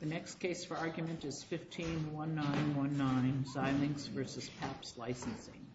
The next case for argument is 15-1919, Xilinx v. Papps licensing. The next case for argument is 15-1919, Xilinx v. Papps licensing.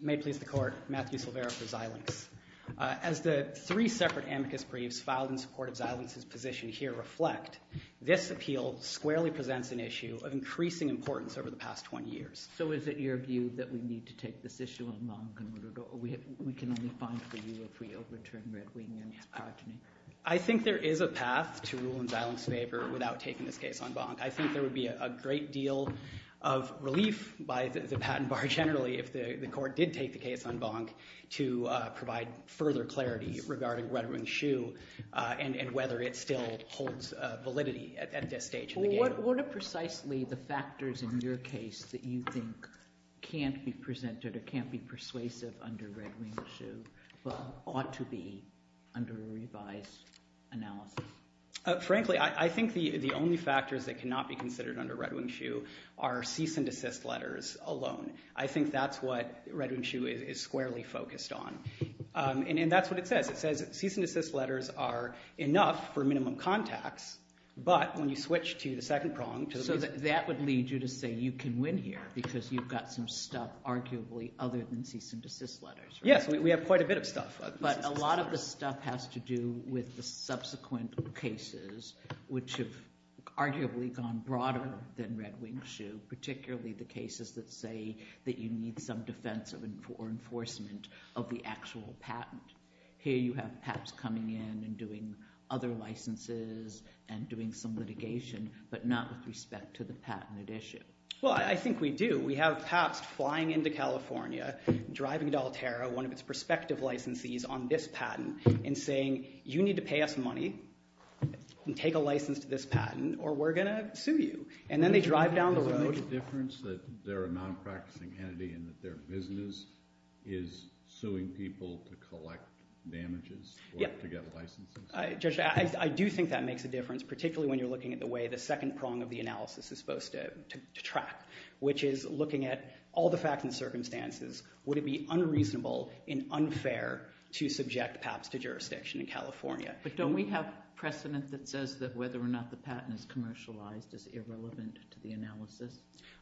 May it please the court, Matthew Silvera for Xilinx. As the three separate amicus briefs filed in support of Xilinx's position here reflect, this appeal squarely presents an issue of increasing importance over the past 20 years. So is it your view that we need to take this issue on bonk in order to—or we can only find for you if we overturn Red Wing and its progeny? I think there is a path to rule in Xilinx's favor without taking this case on bonk. I think there would be a great deal of relief by the patent bar generally if the court did take the case on bonk to provide further clarity regarding Red Wing's shoe and whether it still holds validity at this stage in the game. What are precisely the factors in your case that you think can't be presented or can't be persuasive under Red Wing's shoe but ought to be under a revised analysis? Frankly, I think the only factors that cannot be considered under Red Wing's shoe are cease and desist letters alone. I think that's what Red Wing's shoe is squarely focused on. And that's what it says. It says cease and desist letters are enough for minimum contacts, but when you switch to the second prong— So that would lead you to say you can win here because you've got some stuff arguably other than cease and desist letters, right? Yes. We have quite a bit of stuff. But a lot of the stuff has to do with the subsequent cases, which have arguably gone broader than Red Wing's shoe, particularly the cases that say that you need some defense or enforcement of the actual patent. Here you have PAPS coming in and doing other licenses and doing some litigation, but not with respect to the patent at issue. Well, I think we do. We have PAPS flying into California, driving to Altera, one of its prospective licensees on this patent, and saying, you need to pay us money and take a license to this patent or we're going to sue you. And then they drive down the road— Does it make a difference that they're a non-practicing entity and that their business is suing people to collect damages or to get licenses? Judge, I do think that makes a difference, particularly when you're looking at the way the second prong of the analysis is supposed to track, which is looking at all the facts and circumstances. Would it be unreasonable and unfair to subject PAPS to jurisdiction in California? But don't we have precedent that says that whether or not the patent is commercialized is irrelevant to the analysis?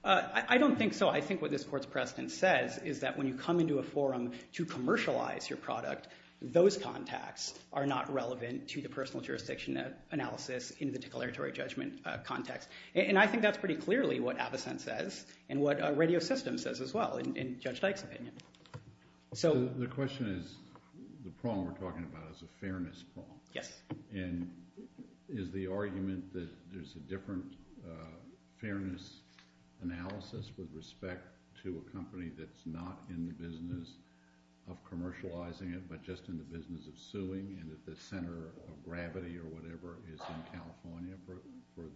I don't think so. I think what this Court's precedent says is that when you come into a forum to commercialize your product, those contacts are not relevant to the personal jurisdiction analysis in the declaratory judgment context. And I think that's pretty clearly what Avocent says and what Radio System says as well, in Judge Dyke's opinion. The question is, the prong we're talking about is a fairness prong. Yes. And is the argument that there's a different fairness analysis with respect to a company that's not in the business of commercializing it, but just in the business of suing and that the center of gravity or whatever is in California for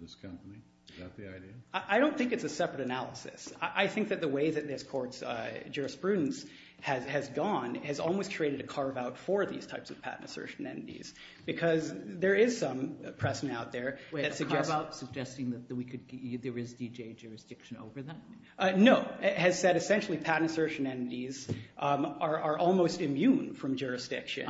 this company? Is that the idea? I don't think it's a separate analysis. I think that the way that this Court's jurisprudence has gone has almost created a carve-out for these types of patent assertion entities, because there is some precedent out there that suggests— Wait. A carve-out suggesting that there is D.J. jurisdiction over that? No. It has said essentially patent assertion entities are almost immune from jurisdiction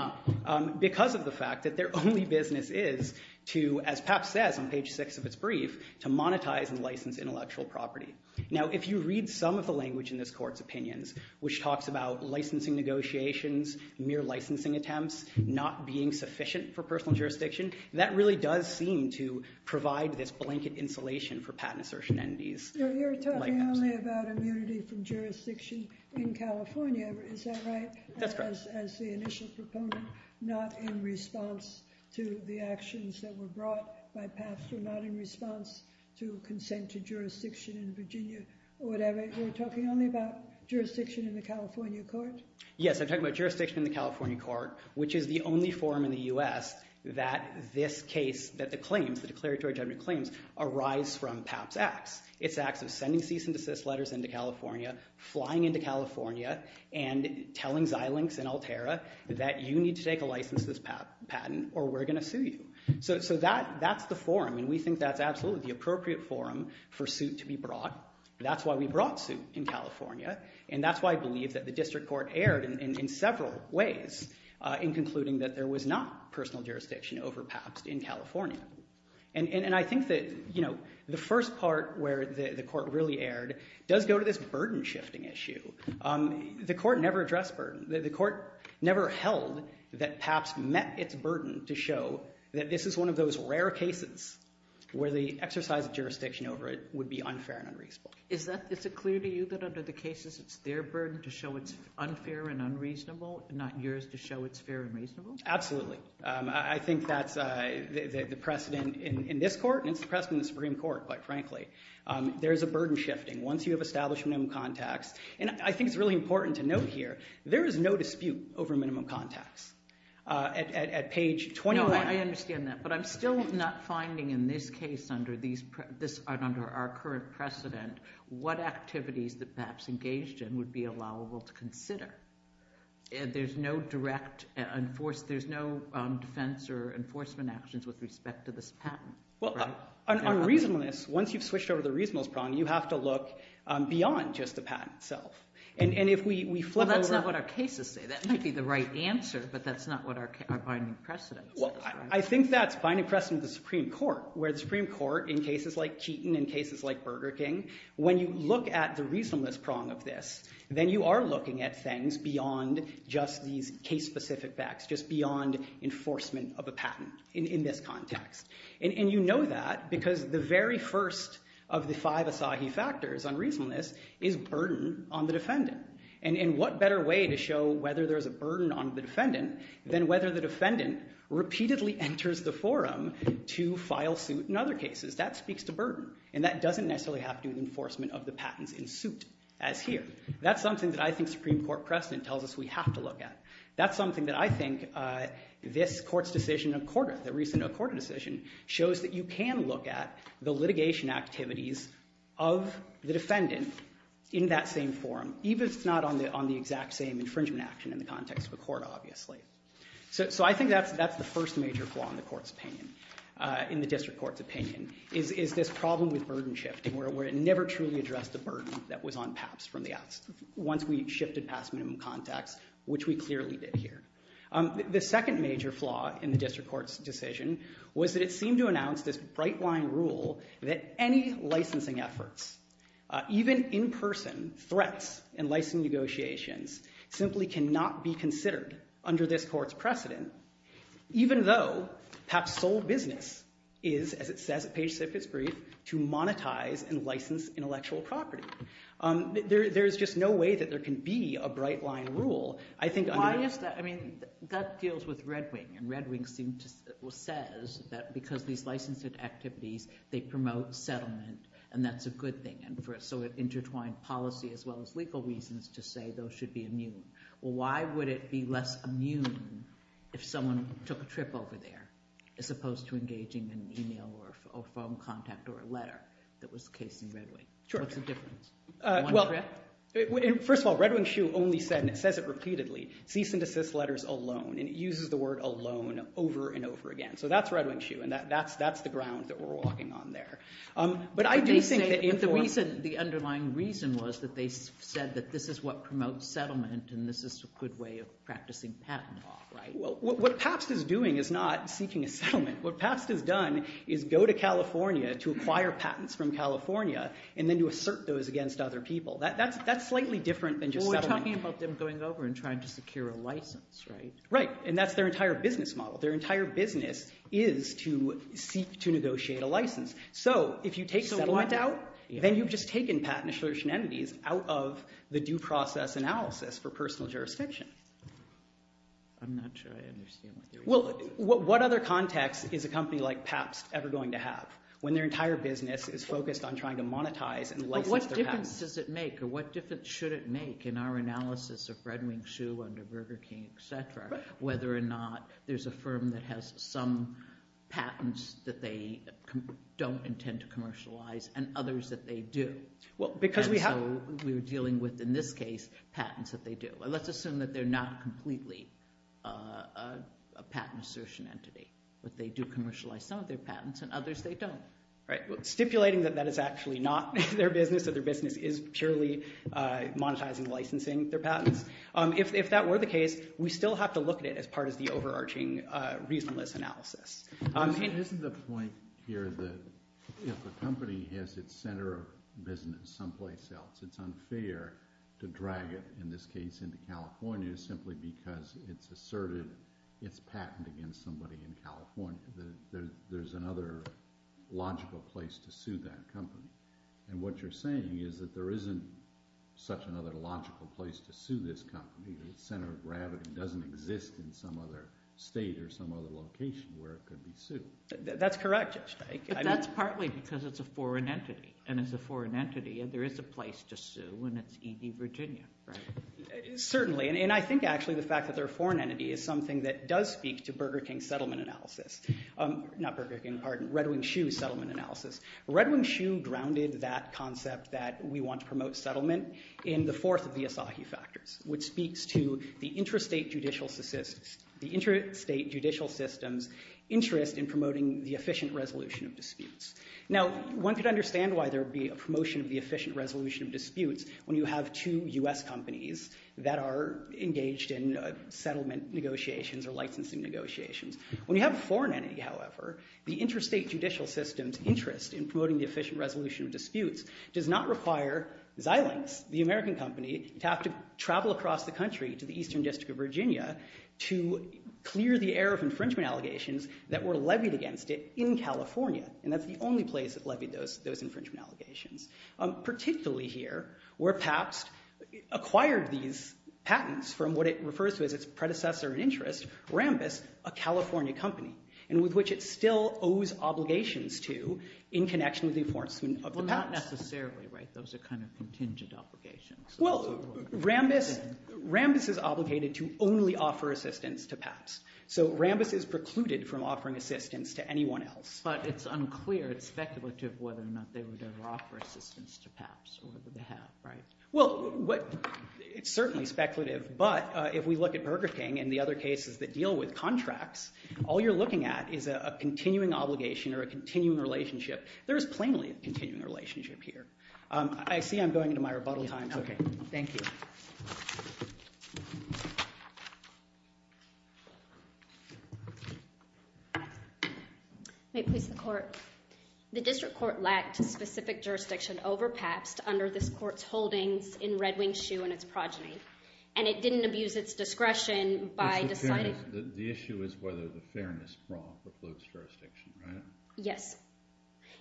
because of the fact that their only business is to, as Papp says on page 6 of its brief, to monetize and license intellectual property. Now, if you read some of the language in this Court's opinions, which talks about licensing negotiations, mere licensing attempts, not being sufficient for personal jurisdiction, that really does seem to provide this blanket insulation for patent assertion entities. You're talking only about immunity from jurisdiction in California, is that right? That's correct. As the initial proponent, not in response to the actions that were brought by Papp, so not in response to consent to jurisdiction in Virginia or whatever. You're talking only about jurisdiction in the California court? Yes. I'm talking about jurisdiction in the California court, which is the only forum in the U.S. that this case, that the claims, the declaratory judgment claims, arise from Papp's acts. Its acts of sending cease and desist letters into California, flying into California, and telling Xilinx and Altera that you need to take a license to this patent or we're going to sue you. So that's the forum, and we think that's absolutely the appropriate forum for suit to be brought. That's why we brought suit in California, and that's why I believe that the district court erred in several ways in concluding that there was not personal jurisdiction over Papp's in California. And I think that the first part where the court really erred does go to this burden shifting issue. The court never addressed burden. The court never held that Papp's met its burden to show that this is one of those rare cases where the exercise of jurisdiction over it would be unfair and unreasonable. Is that, is it clear to you that under the cases it's their burden to show it's unfair and unreasonable and not yours to show it's fair and reasonable? Absolutely. I think that's the precedent in this court, and it's the precedent in the Supreme Court, quite frankly. There's a burden shifting. Once you have established minimum contacts, and I think it's really important to note here, there is no dispute over minimum contacts. At page 21... No, I understand that, but I'm still not finding in this case under our current precedent what activities that Papp's engaged in would be allowable to consider. There's no direct, there's no defense or enforcement actions with respect to this patent. Well, on reasonableness, once you've switched over to the reasonableness problem, you have to look beyond just the patent itself. And if we flip over... Well, that's not what our cases say. That might be the right answer, but that's not what our binding precedent says. I think that's binding precedent of the Supreme Court, where the Supreme Court, in cases like Keaton and cases like Burger King, when you look at the reasonableness prong of this, then you are looking at things beyond just these case-specific facts, just beyond enforcement of a patent in this context. And you know that because the very first of the five Asahi factors on reasonableness is burden on the defendant. And what better way to show whether there's a burden on the defendant than whether the defendant repeatedly enters the forum to file suit in other cases? That speaks to burden. And that doesn't necessarily have to do with enforcement of the patents in suit, as here. That's something that I think Supreme Court precedent tells us we have to look at. That's something that I think this Court's decision, the recent Accorda decision, shows that you can look at the litigation activities of the defendant in that same forum, even if it's not on the exact same infringement action in the context of Accorda, obviously. So I think that's the first major flaw in the District Court's opinion, is this problem with burden shifting, where it never truly addressed the burden that was on PAPs once we shifted past minimum contacts, which we clearly did here. The second major flaw in the District Court's decision was that it seemed to announce this license negotiations simply cannot be considered under this Court's precedent, even though PAP's sole business is, as it says at page six of its brief, to monetize and license intellectual property. There's just no way that there can be a bright-line rule. I think under— Why is that? I mean, that deals with Red Wing. And Red Wing seems to—well, says that because these license activities, they promote settlement, and that's a good thing. And so it intertwined policy as well as legal reasons to say those should be immune. Well, why would it be less immune if someone took a trip over there, as opposed to engaging an email or phone contact or a letter that was the case in Red Wing? Sure. What's the difference? Well, first of all, Red Wing's shoe only said, and it says it repeatedly, cease and desist letters alone. And it uses the word alone over and over again. So that's Red Wing's shoe, and that's the ground that we're walking on there. But I do think that— But the reason, the underlying reason was that they said that this is what promotes settlement and this is a good way of practicing patent law, right? What PAPST is doing is not seeking a settlement. What PAPST has done is go to California to acquire patents from California and then to assert those against other people. That's slightly different than just settling— Well, we're talking about them going over and trying to secure a license, right? Right. And that's their entire business model. Their entire business is to seek to negotiate a license. So if you take settlement out, then you've just taken patent assertion entities out of the due process analysis for personal jurisdiction. I'm not sure I understand what you're— What other context is a company like PAPST ever going to have when their entire business is focused on trying to monetize and license their patents? But what difference does it make, or what difference should it make in our analysis of Red Wing's shoe under Burger King, et cetera, whether or not there's a firm that has some patents that they don't intend to commercialize and others that they do? And so we're dealing with, in this case, patents that they do. Let's assume that they're not completely a patent assertion entity, but they do commercialize some of their patents and others they don't. Right. Stipulating that that is actually not their business, that their business is purely monetizing licensing their patents, if that were the case, we still have to look at it as part of the overarching reasonless analysis. Isn't the point here that if a company has its center of business someplace else, it's unfair to drag it, in this case, into California simply because it's asserted its patent against somebody in California, that there's another logical place to sue that company. And what you're saying is that there isn't such another logical place to sue this company, the center of gravity doesn't exist in some other state or some other location where it could be sued. That's correct. But that's partly because it's a foreign entity, and as a foreign entity, there is a place to sue, and it's E.D. Virginia, right? Certainly. And I think, actually, the fact that they're a foreign entity is something that does speak to Burger King's settlement analysis, not Burger King, pardon, Red Wing Shoe's settlement analysis. Red Wing Shoe grounded that concept that we want to promote settlement in the fourth of the Asahi factors, which speaks to the interstate judicial system's interest in promoting the efficient resolution of disputes. Now, one could understand why there would be a promotion of the efficient resolution of disputes when you have two U.S. companies that are engaged in settlement negotiations or licensing negotiations. When you have a foreign entity, however, the interstate judicial system's interest in promoting the efficient resolution of disputes does not require Xilinx, the American company, to have to travel across the country to the Eastern District of Virginia to clear the air of infringement allegations that were levied against it in California, and that's the only place that levied those infringement allegations. Particularly here, where Pabst acquired these patents from what it refers to as its predecessor in interest, Rambis, a California company, and with which it still owes obligations to in connection with the enforcement of the patents. Well, not necessarily, right? Those are kind of contingent obligations. Well, Rambis is obligated to only offer assistance to Pabst. So Rambis is precluded from offering assistance to anyone else. But it's unclear, it's speculative whether or not they would ever offer assistance to Pabst or whether they have, right? Well, it's certainly speculative, but if we look at Burger King and the other cases that deal with contracts, all you're looking at is a continuing obligation or a continuing relationship. There is plainly a continuing relationship here. I see I'm going into my rebuttal time. Thank you. May it please the Court, the District Court lacked specific jurisdiction over Pabst under this Court's holdings in Red Wing Shoe and its progeny, and it didn't abuse its discretion by deciding... The issue is whether the fairness brawl precludes jurisdiction, right? Yes.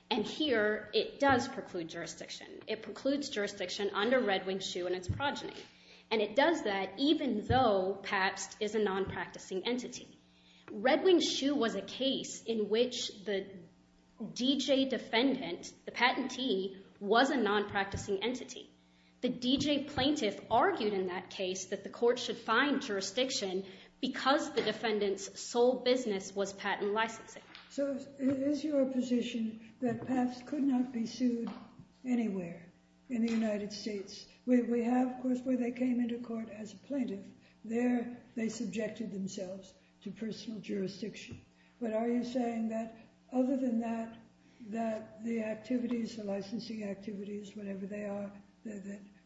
And here, it does preclude jurisdiction. It precludes jurisdiction under Red Wing Shoe and its progeny. And it does that even though Pabst is a non-practicing entity. Red Wing Shoe was a case in which the DJ defendant, the patentee, was a non-practicing entity. The DJ plaintiff argued in that case that the Court should find jurisdiction because the defendant's sole business was patent licensing. So is your position that Pabst could not be sued anywhere in the United States? We have, of course, where they came into court as a plaintiff. There, they subjected themselves to personal jurisdiction. But are you saying that other than that, that the activities, the licensing activities, whatever they are,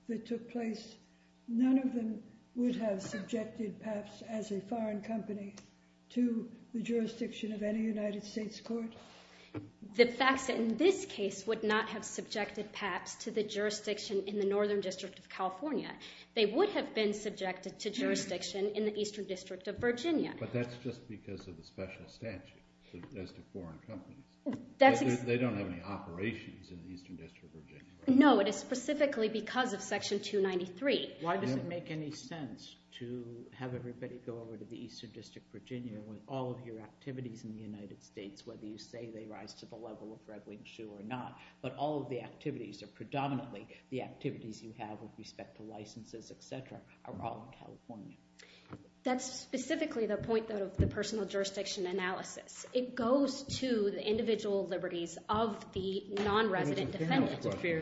that took place, none of them would have subjected Pabst as a foreign company to the jurisdiction of any United States court? The fact that in this case would not have subjected Pabst to the jurisdiction in the Northern District of California, they would have been subjected to jurisdiction in the Eastern District of Virginia. But that's just because of the special statute as to foreign companies. They don't have any operations in the Eastern District of Virginia, right? No. It is specifically because of Section 293. Why does it make any sense to have everybody go over to the Eastern District of Virginia when all of your activities in the United States, whether you say they rise to the level of red-winged shoe or not, but all of the activities are predominantly the activities you have with respect to licenses, et cetera, are all in California? That's specifically the point of the personal jurisdiction analysis. It goes to the individual liberties of the non-resident defendant to fear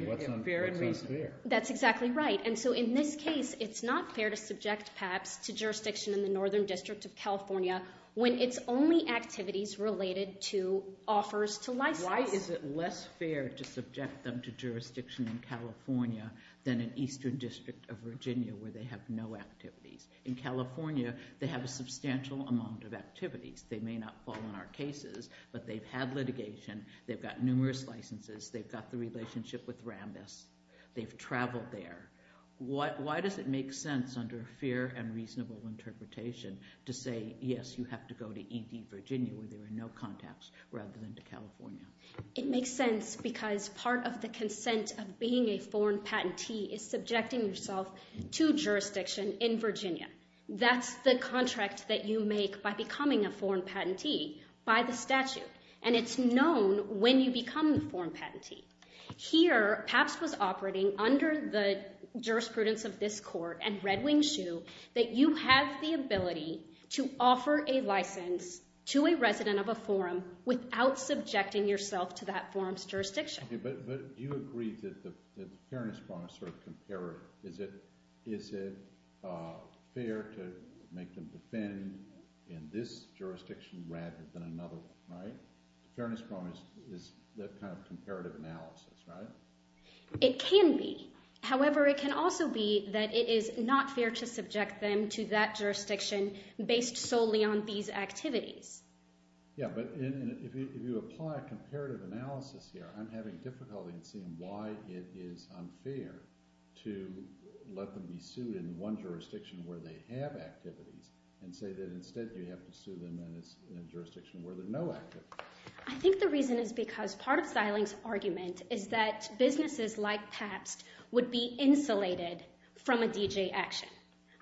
and reason. That's exactly right. And so in this case, it's not fair to subject Pabst to jurisdiction in the Northern District of California when it's only activities related to offers to license. Why is it less fair to subject them to jurisdiction in California than in Eastern District of Virginia where they have no activities? In California, they have a substantial amount of activities. They may not fall in our cases, but they've had litigation, they've got numerous licenses, they've got the relationship with Rambis, they've traveled there. Why does it make sense under fair and reasonable interpretation to say, yes, you have to go to E.D. Virginia where there are no contacts rather than to California? It makes sense because part of the consent of being a foreign patentee is subjecting yourself to jurisdiction in Virginia. That's the contract that you make by becoming a foreign patentee by the statute. And it's known when you become a foreign patentee. Here Pabst was operating under the jurisprudence of this court and Red Wing Shoe that you have the ability to offer a license to a resident of a forum without subjecting yourself to that forum's jurisdiction. Okay, but do you agree that the fairness bond is sort of comparative? Is it fair to make them defend in this jurisdiction rather than another one, right? The fairness bond is that kind of comparative analysis, right? It can be. However, it can also be that it is not fair to subject them to that jurisdiction based solely on these activities. Yeah, but if you apply comparative analysis here, I'm having difficulty in seeing why it is unfair to let them be sued in one jurisdiction where they have activities and say that instead you have to sue them in a jurisdiction where there are no activities. I think the reason is because part of Seiling's argument is that businesses like Pabst would be insulated from a DJ action.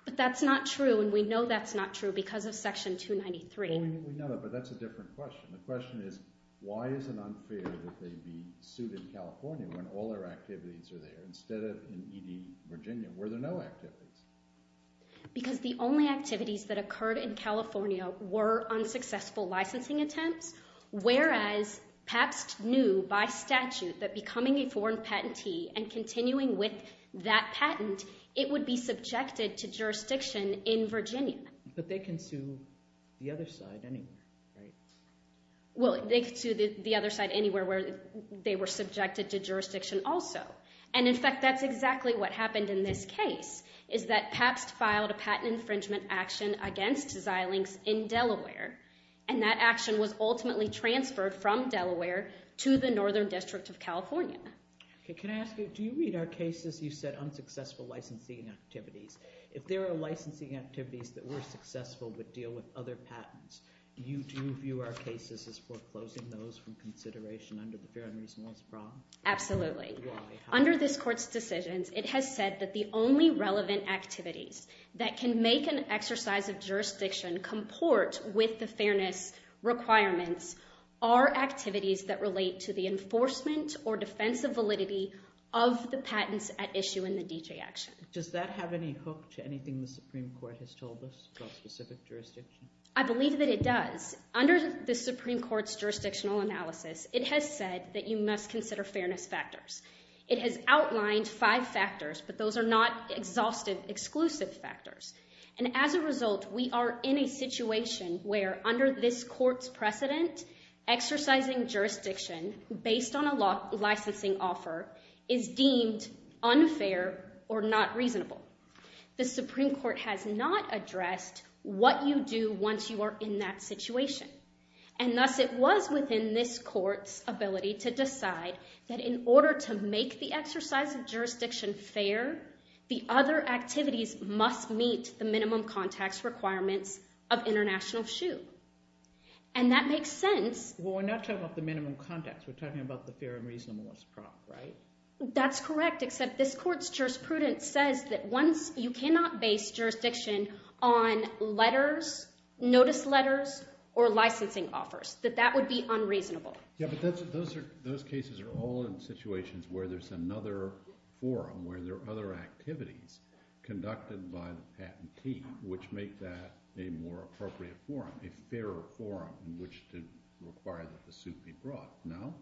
But that's not true and we know that's not true because of Section 293. We know that, but that's a different question. The question is why is it unfair that they be sued in California when all their activities are there instead of in ED Virginia where there are no activities? Because the only activities that occurred in California were unsuccessful licensing attempts, whereas Pabst knew by statute that becoming a foreign patentee and continuing with that patent, it would be subjected to jurisdiction in Virginia. But they can sue the other side anywhere, right? Well, they can sue the other side anywhere where they were subjected to jurisdiction also. And in fact, that's exactly what happened in this case is that Pabst filed a patent infringement action against Seiling's in Delaware and that action was ultimately transferred from Delaware to the Northern District of California. Can I ask you, do you read our cases you said unsuccessful licensing activities? If there are licensing activities that were successful but deal with other patents, do you view our cases as foreclosing those from consideration under the Fair and Reasonable Problem? Absolutely. Under this Court's decisions, it has said that the only relevant activities that can make an exercise of jurisdiction comport with the fairness requirements are activities that relate to the enforcement or defense of validity of the patents at issue in the DJ action. Does that have any hook to anything the Supreme Court has told us about specific jurisdiction? I believe that it does. Under the Supreme Court's jurisdictional analysis, it has said that you must consider fairness factors. It has outlined five factors, but those are not exhaustive, exclusive factors. And as a result, we are in a situation where under this Court's precedent, exercising jurisdiction based on a licensing offer is deemed unfair or not reasonable. The Supreme Court has not addressed what you do once you are in that situation. And thus it was within this Court's ability to decide that in order to make the exercise of jurisdiction fair, the other activities must meet the minimum context requirements of international shoe. And that makes sense. Well, we're not talking about the minimum context. We're talking about the fair and reasonable as a product, right? That's correct, except this Court's jurisprudence says that once you cannot base jurisdiction on letters, notice letters, or licensing offers, that that would be unreasonable. Yeah, but those cases are all in situations where there's another forum, where there are other activities conducted by the patentee, which make that a more appropriate forum, a fairer forum in which to require that the suit be brought, no?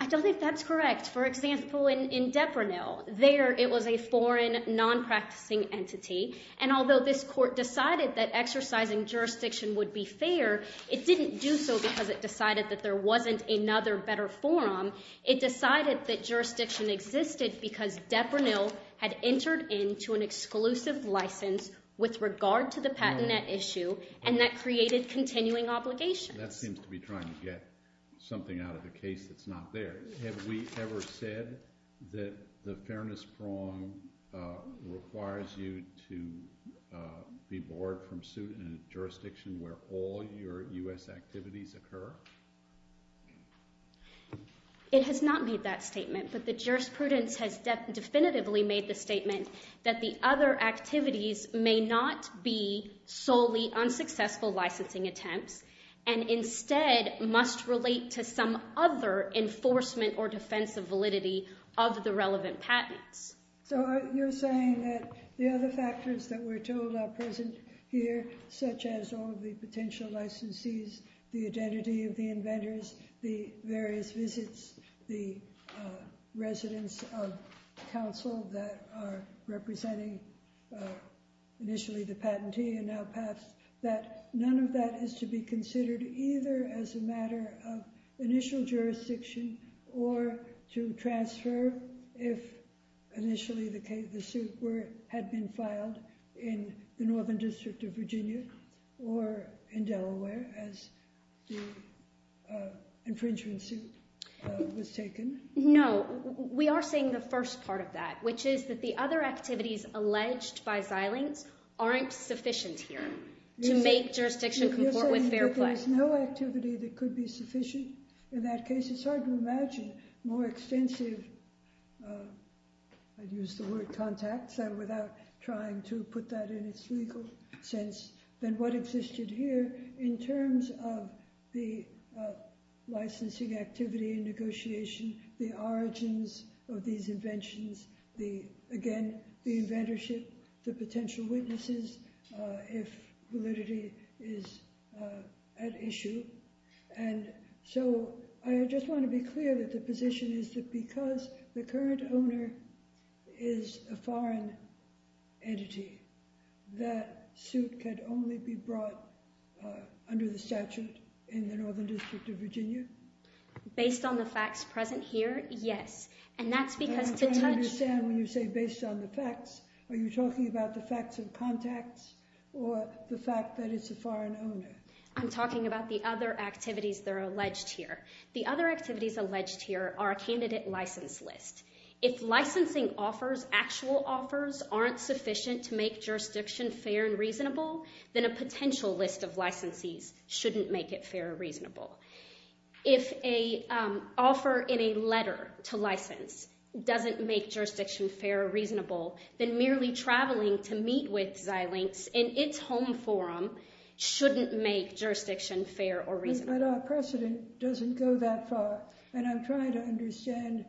I don't think that's correct. For example, in Deprinil, there it was a foreign, non-practicing entity, and although this Court decided that exercising jurisdiction would be fair, it didn't do so because it decided that there wasn't another, better forum. It decided that jurisdiction existed because Deprinil had entered into an exclusive license with regard to the patent issue, and that created continuing obligations. That seems to be trying to get something out of the case that's not there. Have we ever said that the fairness prong requires you to be borne from suit in a jurisdiction where all your U.S. activities occur? It has not made that statement, but the jurisprudence has definitively made the statement that the other activities may not be solely unsuccessful licensing attempts, and instead must relate to some other enforcement or defense of validity of the relevant patents. So you're saying that the other factors that we're told are present here, such as all of the potential licensees, the identity of the inventors, the various visits, the residents of counsel that are representing initially the patentee and now passed, that none of that is to be considered either as a matter of initial jurisdiction or to transfer if initially the suit had been filed in the Northern District of Virginia or in Delaware as the infringement suit was taken? No. We are saying the first part of that, which is that the other activities alleged by Xilinx aren't sufficient here to make jurisdiction comport with FairPlex. You're saying that there's no activity that could be sufficient in that case? It's hard to imagine more extensive, I'd use the word contacts without trying to put that sense than what existed here in terms of the licensing activity and negotiation, the origins of these inventions, again, the inventorship, the potential witnesses if validity is at issue. And so I just want to be clear that the position is that because the current owner is a foreign entity, that suit could only be brought under the statute in the Northern District of Virginia? Based on the facts present here, yes. And that's because to touch... I'm trying to understand when you say based on the facts, are you talking about the facts of contacts or the fact that it's a foreign owner? I'm talking about the other activities that are alleged here. The other activities alleged here are a candidate license list. If licensing offers, actual offers, aren't sufficient to make jurisdiction fair and reasonable, then a potential list of licensees shouldn't make it fair or reasonable. If an offer in a letter to license doesn't make jurisdiction fair or reasonable, then merely traveling to meet with Xilinx in its home forum shouldn't make jurisdiction fair or reasonable. But our precedent doesn't go that far. And I'm trying to understand,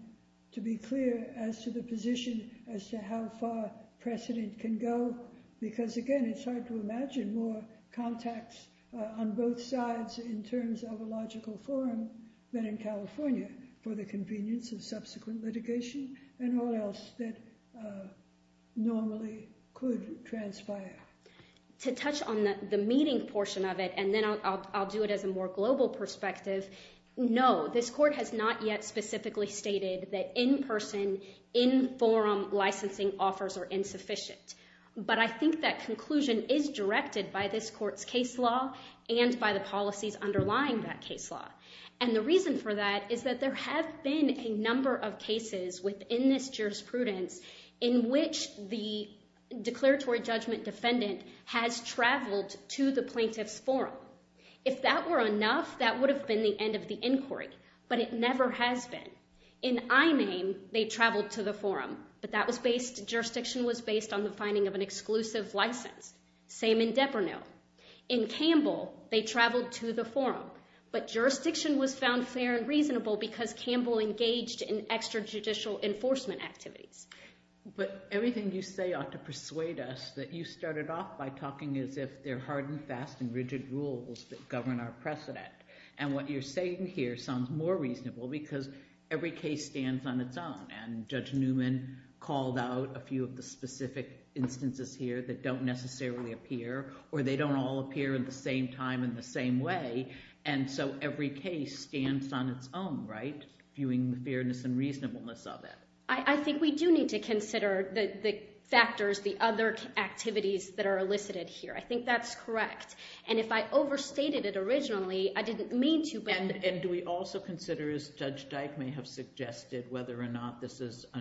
to be clear, as to the position as to how far precedent can go because, again, it's hard to imagine more contacts on both sides in terms of a logical forum than in California for the convenience of subsequent litigation and all else that normally could transpire. To touch on the meeting portion of it, and then I'll do it as a more global perspective, no, this court has not yet specifically stated that in-person, in-forum licensing offers are insufficient. But I think that conclusion is directed by this court's case law and by the policies underlying that case law. And the reason for that is that there have been a number of cases within this jurisprudence in which the declaratory judgment defendant has traveled to the plaintiff's forum. If that were enough, that would have been the end of the inquiry. But it never has been. In Imame, they traveled to the forum. But that was based, jurisdiction was based on the finding of an exclusive license. Same in Depernil. In Campbell, they traveled to the forum. But jurisdiction was found fair and reasonable because Campbell engaged in extrajudicial enforcement activities. But everything you say ought to persuade us that you started off by talking as if they're hard and fast and rigid rules that govern our precedent. And what you're saying here sounds more reasonable because every case stands on its own. And Judge Newman called out a few of the specific instances here that don't necessarily appear or they don't all appear at the same time in the same way. And so every case stands on its own, right? Viewing the fairness and reasonableness of it. I think we do need to consider the factors, the other activities that are elicited here. I think that's correct. And if I overstated it originally, I didn't mean to. And do we also consider, as Judge Dyke may have suggested, whether or not this is a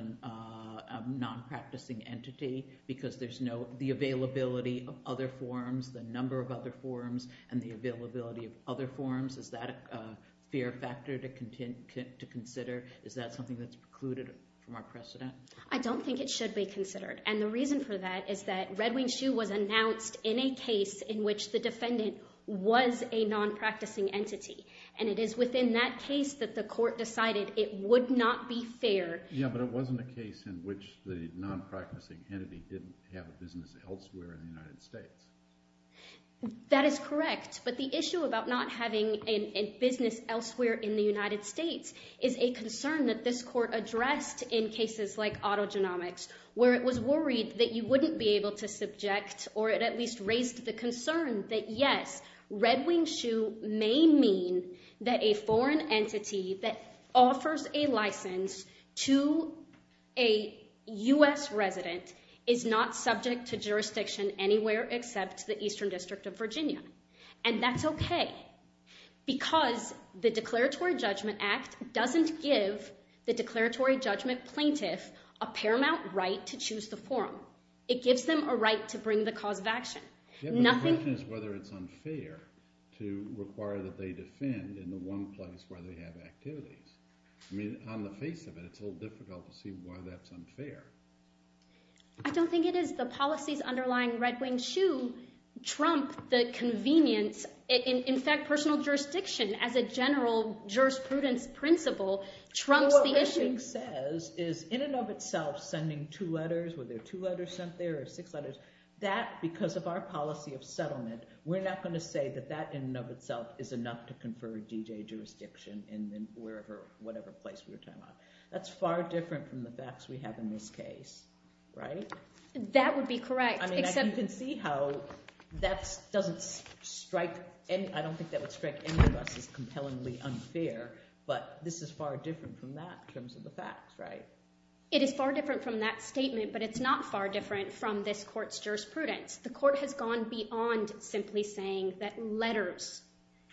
nonpracticing entity because there's no—the availability of other forums, the number of other forums, and the availability of other forums, is that a fair factor to consider? Is that something that's precluded from our precedent? I don't think it should be considered. And the reason for that is that Red Wing Shoe was announced in a case in which the defendant was a nonpracticing entity. And it is within that case that the court decided it would not be fair— Yeah, but it wasn't a case in which the nonpracticing entity didn't have a business elsewhere in the United States. That is correct. But the issue about not having a business elsewhere in the United States is a concern that this court addressed in cases like autogenomics, where it was worried that you wouldn't be able to subject, or it at least raised the concern that yes, Red Wing Shoe may mean that a foreign entity that offers a license to a U.S. resident is not subject to jurisdiction anywhere except the Eastern District of Virginia. And that's okay, because the Declaratory Judgment Act doesn't give the declaratory judgment plaintiff a paramount right to choose the forum. It gives them a right to bring the cause of action. Yeah, but the question is whether it's unfair to require that they defend in the one place where they have activities. I mean, on the face of it, it's a little difficult to see why that's unfair. I don't think it is. The policies underlying Red Wing Shoe trump the convenience, in fact, personal jurisdiction as a general jurisprudence principle trumps the issue. What Red Wing says is, in and of itself, sending two letters, whether two letters sent there or six letters, that because of our policy of settlement, we're not going to say that that in and of itself is enough to confer DJ jurisdiction in whatever place we're talking about. That's far different from the facts we have in this case, right? That would be correct. I mean, you can see how that doesn't strike, I don't think that would strike any of us as compellingly unfair, but this is far different from that in terms of the facts, right? It is far different from that statement, but it's not far different from this court's jurisprudence. The court has gone beyond simply saying that letters,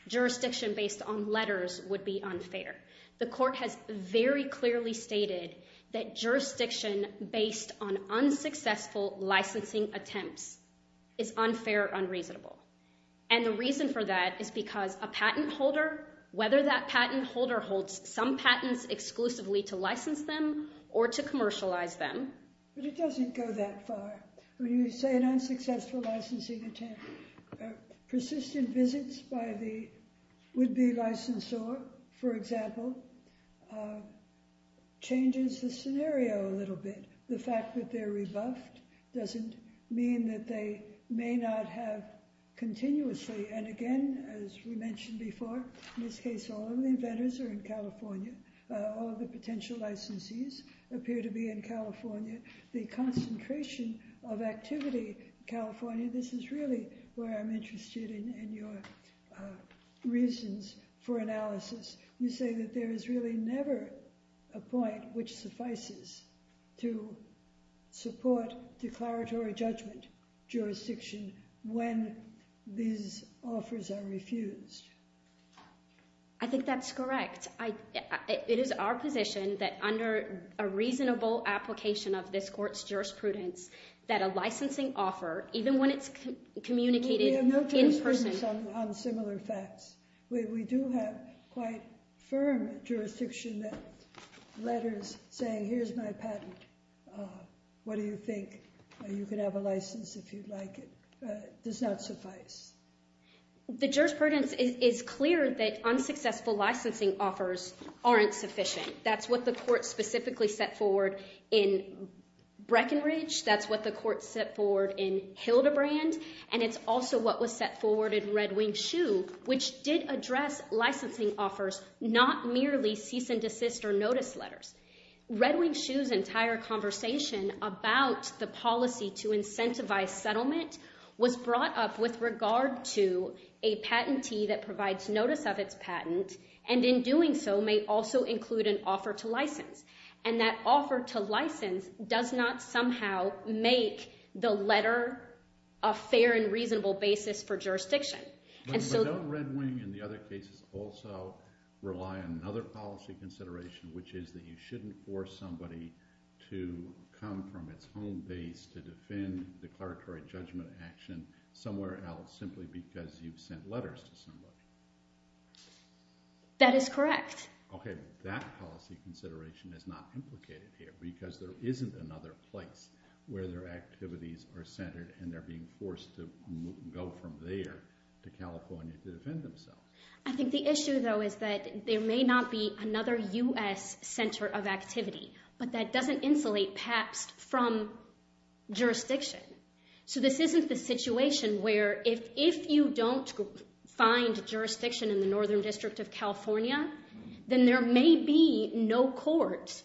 jurisdiction based on letters, would be unfair. The court has very clearly stated that jurisdiction based on unsuccessful licensing attempts is unfair, unreasonable. And the reason for that is because a patent holder, whether that patent holder holds some patents exclusively to license them or to commercialize them. But it doesn't go that far. When you say an unsuccessful licensing attempt, persistent visits by the would-be licensor, for example, changes the scenario a little bit. The fact that they're rebuffed doesn't mean that they may not have continuously, and again, as we mentioned before, in this case, all of the inventors are in California. All of the potential licensees appear to be in California. The concentration of activity in California, this is really where I'm interested in your reasons for analysis. You say that there is really never a point which suffices to support declaratory judgment jurisdiction when these offers are refused. I think that's correct. It is our position that under a reasonable application of this court's jurisprudence that a licensing offer, even when it's communicated in person. We have no jurisprudence on similar facts. We do have quite firm jurisdiction that letters saying, here's my patent. What do you think? You can have a license if you'd like it. It does not suffice. The jurisprudence is clear that unsuccessful licensing offers aren't sufficient. That's what the court specifically set forward in Breckenridge. That's what the court set forward in Hildebrand. It's also what was set forward in Red Wing Shoe which did address licensing offers, not merely cease and desist or notice letters. Red Wing Shoe's entire conversation about the policy to incentivize settlement was brought up with regard to a patentee that provides notice of its patent and in doing so may also include an offer to license. And that offer to license does not somehow make the letter a fair and reasonable basis for jurisdiction. But don't Red Wing and the other cases also rely on another policy consideration which is that you shouldn't force somebody to come from its home base to defend declaratory judgment action somewhere else simply because you've sent letters to somebody? That is correct. Okay, but that policy consideration is not implicated here because there isn't another place where their activities are centered and they're being forced to go from there to California to defend themselves. I think the issue though is that there may not be another U.S. center of activity, but that doesn't insulate PAPS from jurisdiction. So this isn't the situation where if you don't find jurisdiction in the Northern District of California, then there may be no court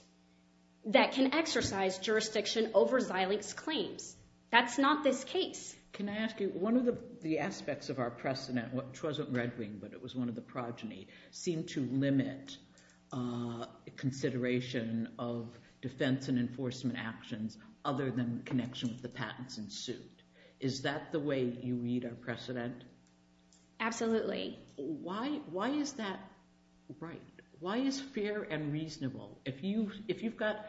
that can exercise jurisdiction over Xilinx claims. That's not this case. Can I ask you, one of the aspects of our precedent, which wasn't Red Wing, but it was one of the progeny, seemed to limit consideration of defense and enforcement actions other than connection with the patents and suit. Is that the way you read our precedent? Absolutely. Why is that right? Why is fair and reasonable? If you've got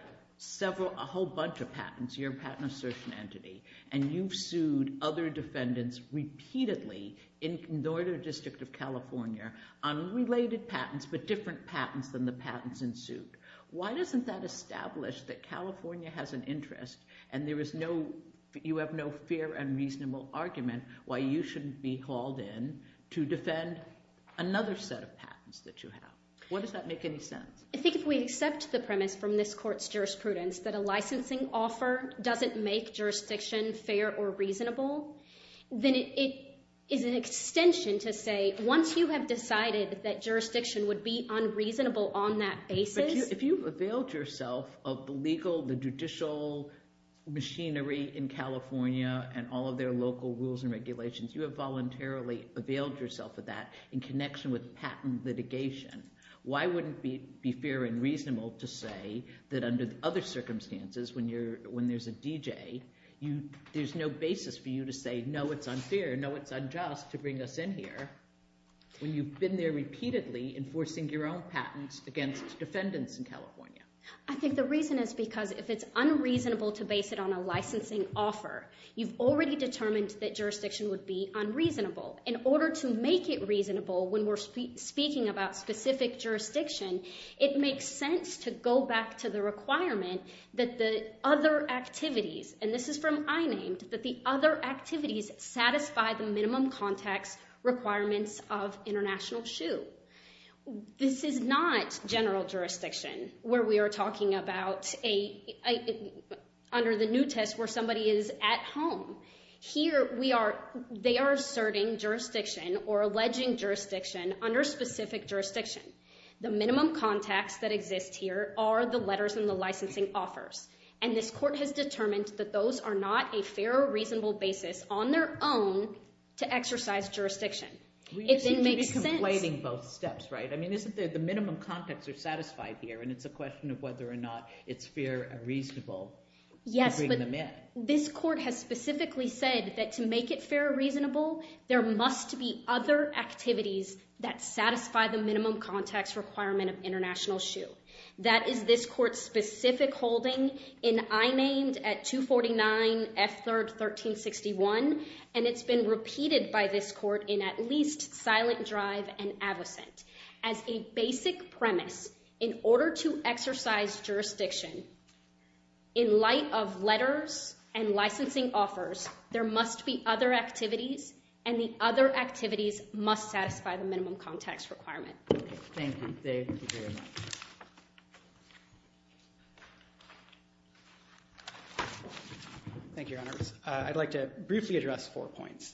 a whole bunch of patents, you're a patent assertion entity, and you've sued other defendants repeatedly in the Northern District of California on related patents but different patents than the patents in suit, why doesn't that establish that California has an interest and you have no fair and reasonable argument why you shouldn't be called in to defend another set of patents that you have? What does that make any sense? I think if we accept the premise from this court's jurisprudence that a licensing offer doesn't make jurisdiction fair or reasonable, then it is an extension to say once you have decided that jurisdiction would be unreasonable on that basis. But if you've availed yourself of the legal, the judicial machinery in California and all of their local rules and regulations, you have voluntarily availed yourself of that in connection with patent litigation, why wouldn't it be fair and reasonable to say that under other circumstances when there's a DJ, there's no basis for you to say, no, it's unfair, no, it's unjust to bring us in here when you've been there repeatedly enforcing your own patents against defendants in California? I think the reason is because if it's unreasonable to base it on a licensing offer, you've already determined that jurisdiction would be unreasonable. In order to make it reasonable when we're speaking about specific jurisdiction, it makes sense to go back to the requirement that the other activities, and this is from I-Named, that the other activities satisfy the minimum context requirements of international shoe. This is not general jurisdiction where we are talking about under the new test where somebody is at home. Here they are asserting jurisdiction or alleging jurisdiction under specific jurisdiction. The minimum context that exists here are the letters and the licensing offers, and this court has determined that those are not a fair or reasonable basis on their own to exercise jurisdiction. It then makes sense. We should be complaining both steps, right? I mean, the minimum context is satisfied here, and it's a question of whether or not it's fair and reasonable to bring them in. Yes, but this court has specifically said that to make it fair and reasonable, there must be other activities that satisfy the minimum context requirement of international shoe. That is this court's specific holding in I-Named at 249 F3rd 1361, and it's been repeated by this court in at least Silent Drive and Avocent. As a basic premise, in order to exercise jurisdiction, in light of letters and licensing offers, there must be other activities, and the other activities must satisfy the minimum context requirement. Thank you, Dave. Thank you very much. Thank you, Your Honors. I'd like to briefly address four points.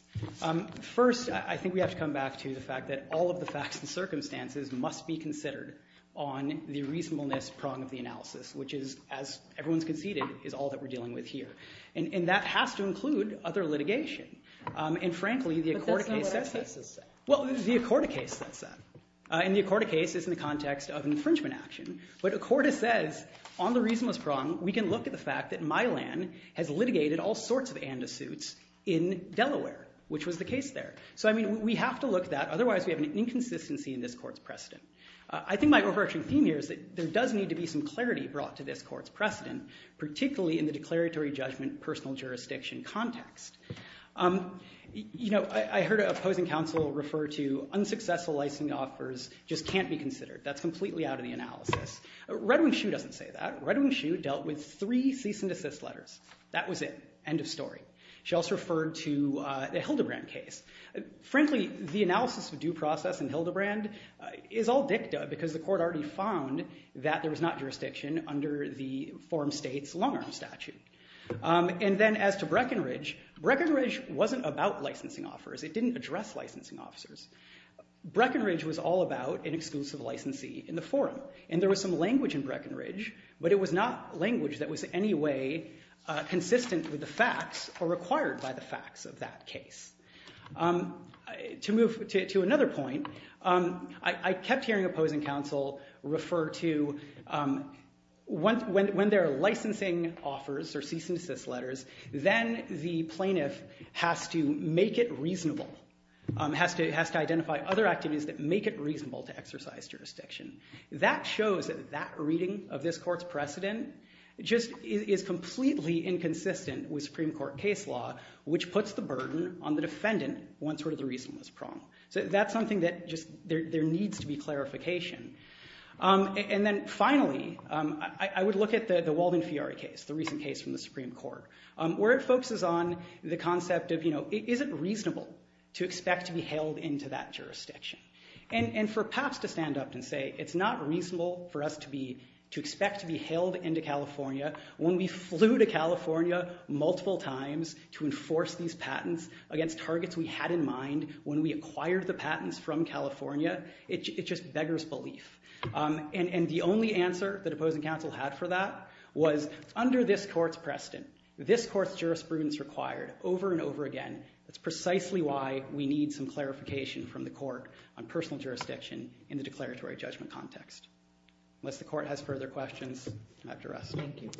First, I think we have to come back to the fact that all of the facts and circumstances must be considered on the reasonableness prong of the analysis, which is, as everyone's conceded, is all that we're dealing with here. And that has to include other litigation. And frankly, the Accorda case says that. But that's not what the Accorda cases say. Well, the Accorda case says that. And the Accorda case is in the context of infringement action. But Accorda says on the reasonableness prong, we can look at the fact that Mylan has litigated all sorts of ANDA suits in Delaware, which was the case there. So, I mean, we have to look at that. Otherwise, we have an inconsistency in this court's precedent. I think my overarching theme here is that there does need to be some clarity brought to this court's precedent, particularly in the declaratory judgment personal jurisdiction context. I heard an opposing counsel refer to unsuccessful licensing offers just can't be considered. That's completely out of the analysis. Redwin Shue doesn't say that. Redwin Shue dealt with three cease and desist letters. That was it. End of story. She also referred to the Hildebrand case. Frankly, the analysis of due process in Hildebrand is all dicta because the court already found that there was not jurisdiction under the forum state's long-arm statute. And then as to Breckenridge, Breckenridge wasn't about licensing offers. It didn't address licensing officers. Breckenridge was all about an exclusive licensee in the forum. And there was some language in Breckenridge, but it was not language that was in any way consistent with the facts or required by the facts of that case. To move to another point, I kept hearing opposing counsel refer to when there are licensing offers or cease and desist letters, then the plaintiff has to make it reasonable, has to identify other activities that make it reasonable to exercise jurisdiction. That shows that that reading of this court's precedent just is completely inconsistent with Supreme Court case law, which puts the burden on the defendant once the reason was pronged. So that's something that there needs to be clarification. And then finally, I would look at the Walden-Fiore case, the recent case from the Supreme Court, where it focuses on the concept of is it reasonable to expect to be held into that jurisdiction? And for PAPS to stand up and say it's not reasonable for us to expect to be held into California when we flew to California multiple times to enforce these patents against targets we had in mind when we acquired the patents from California, it just beggars belief. And the only answer that opposing counsel had for that was under this court's precedent, this court's jurisprudence required over and over again, that's precisely why we need some clarification from the court on personal jurisdiction in the declaratory judgment context. Unless the court has further questions after us. Thank you.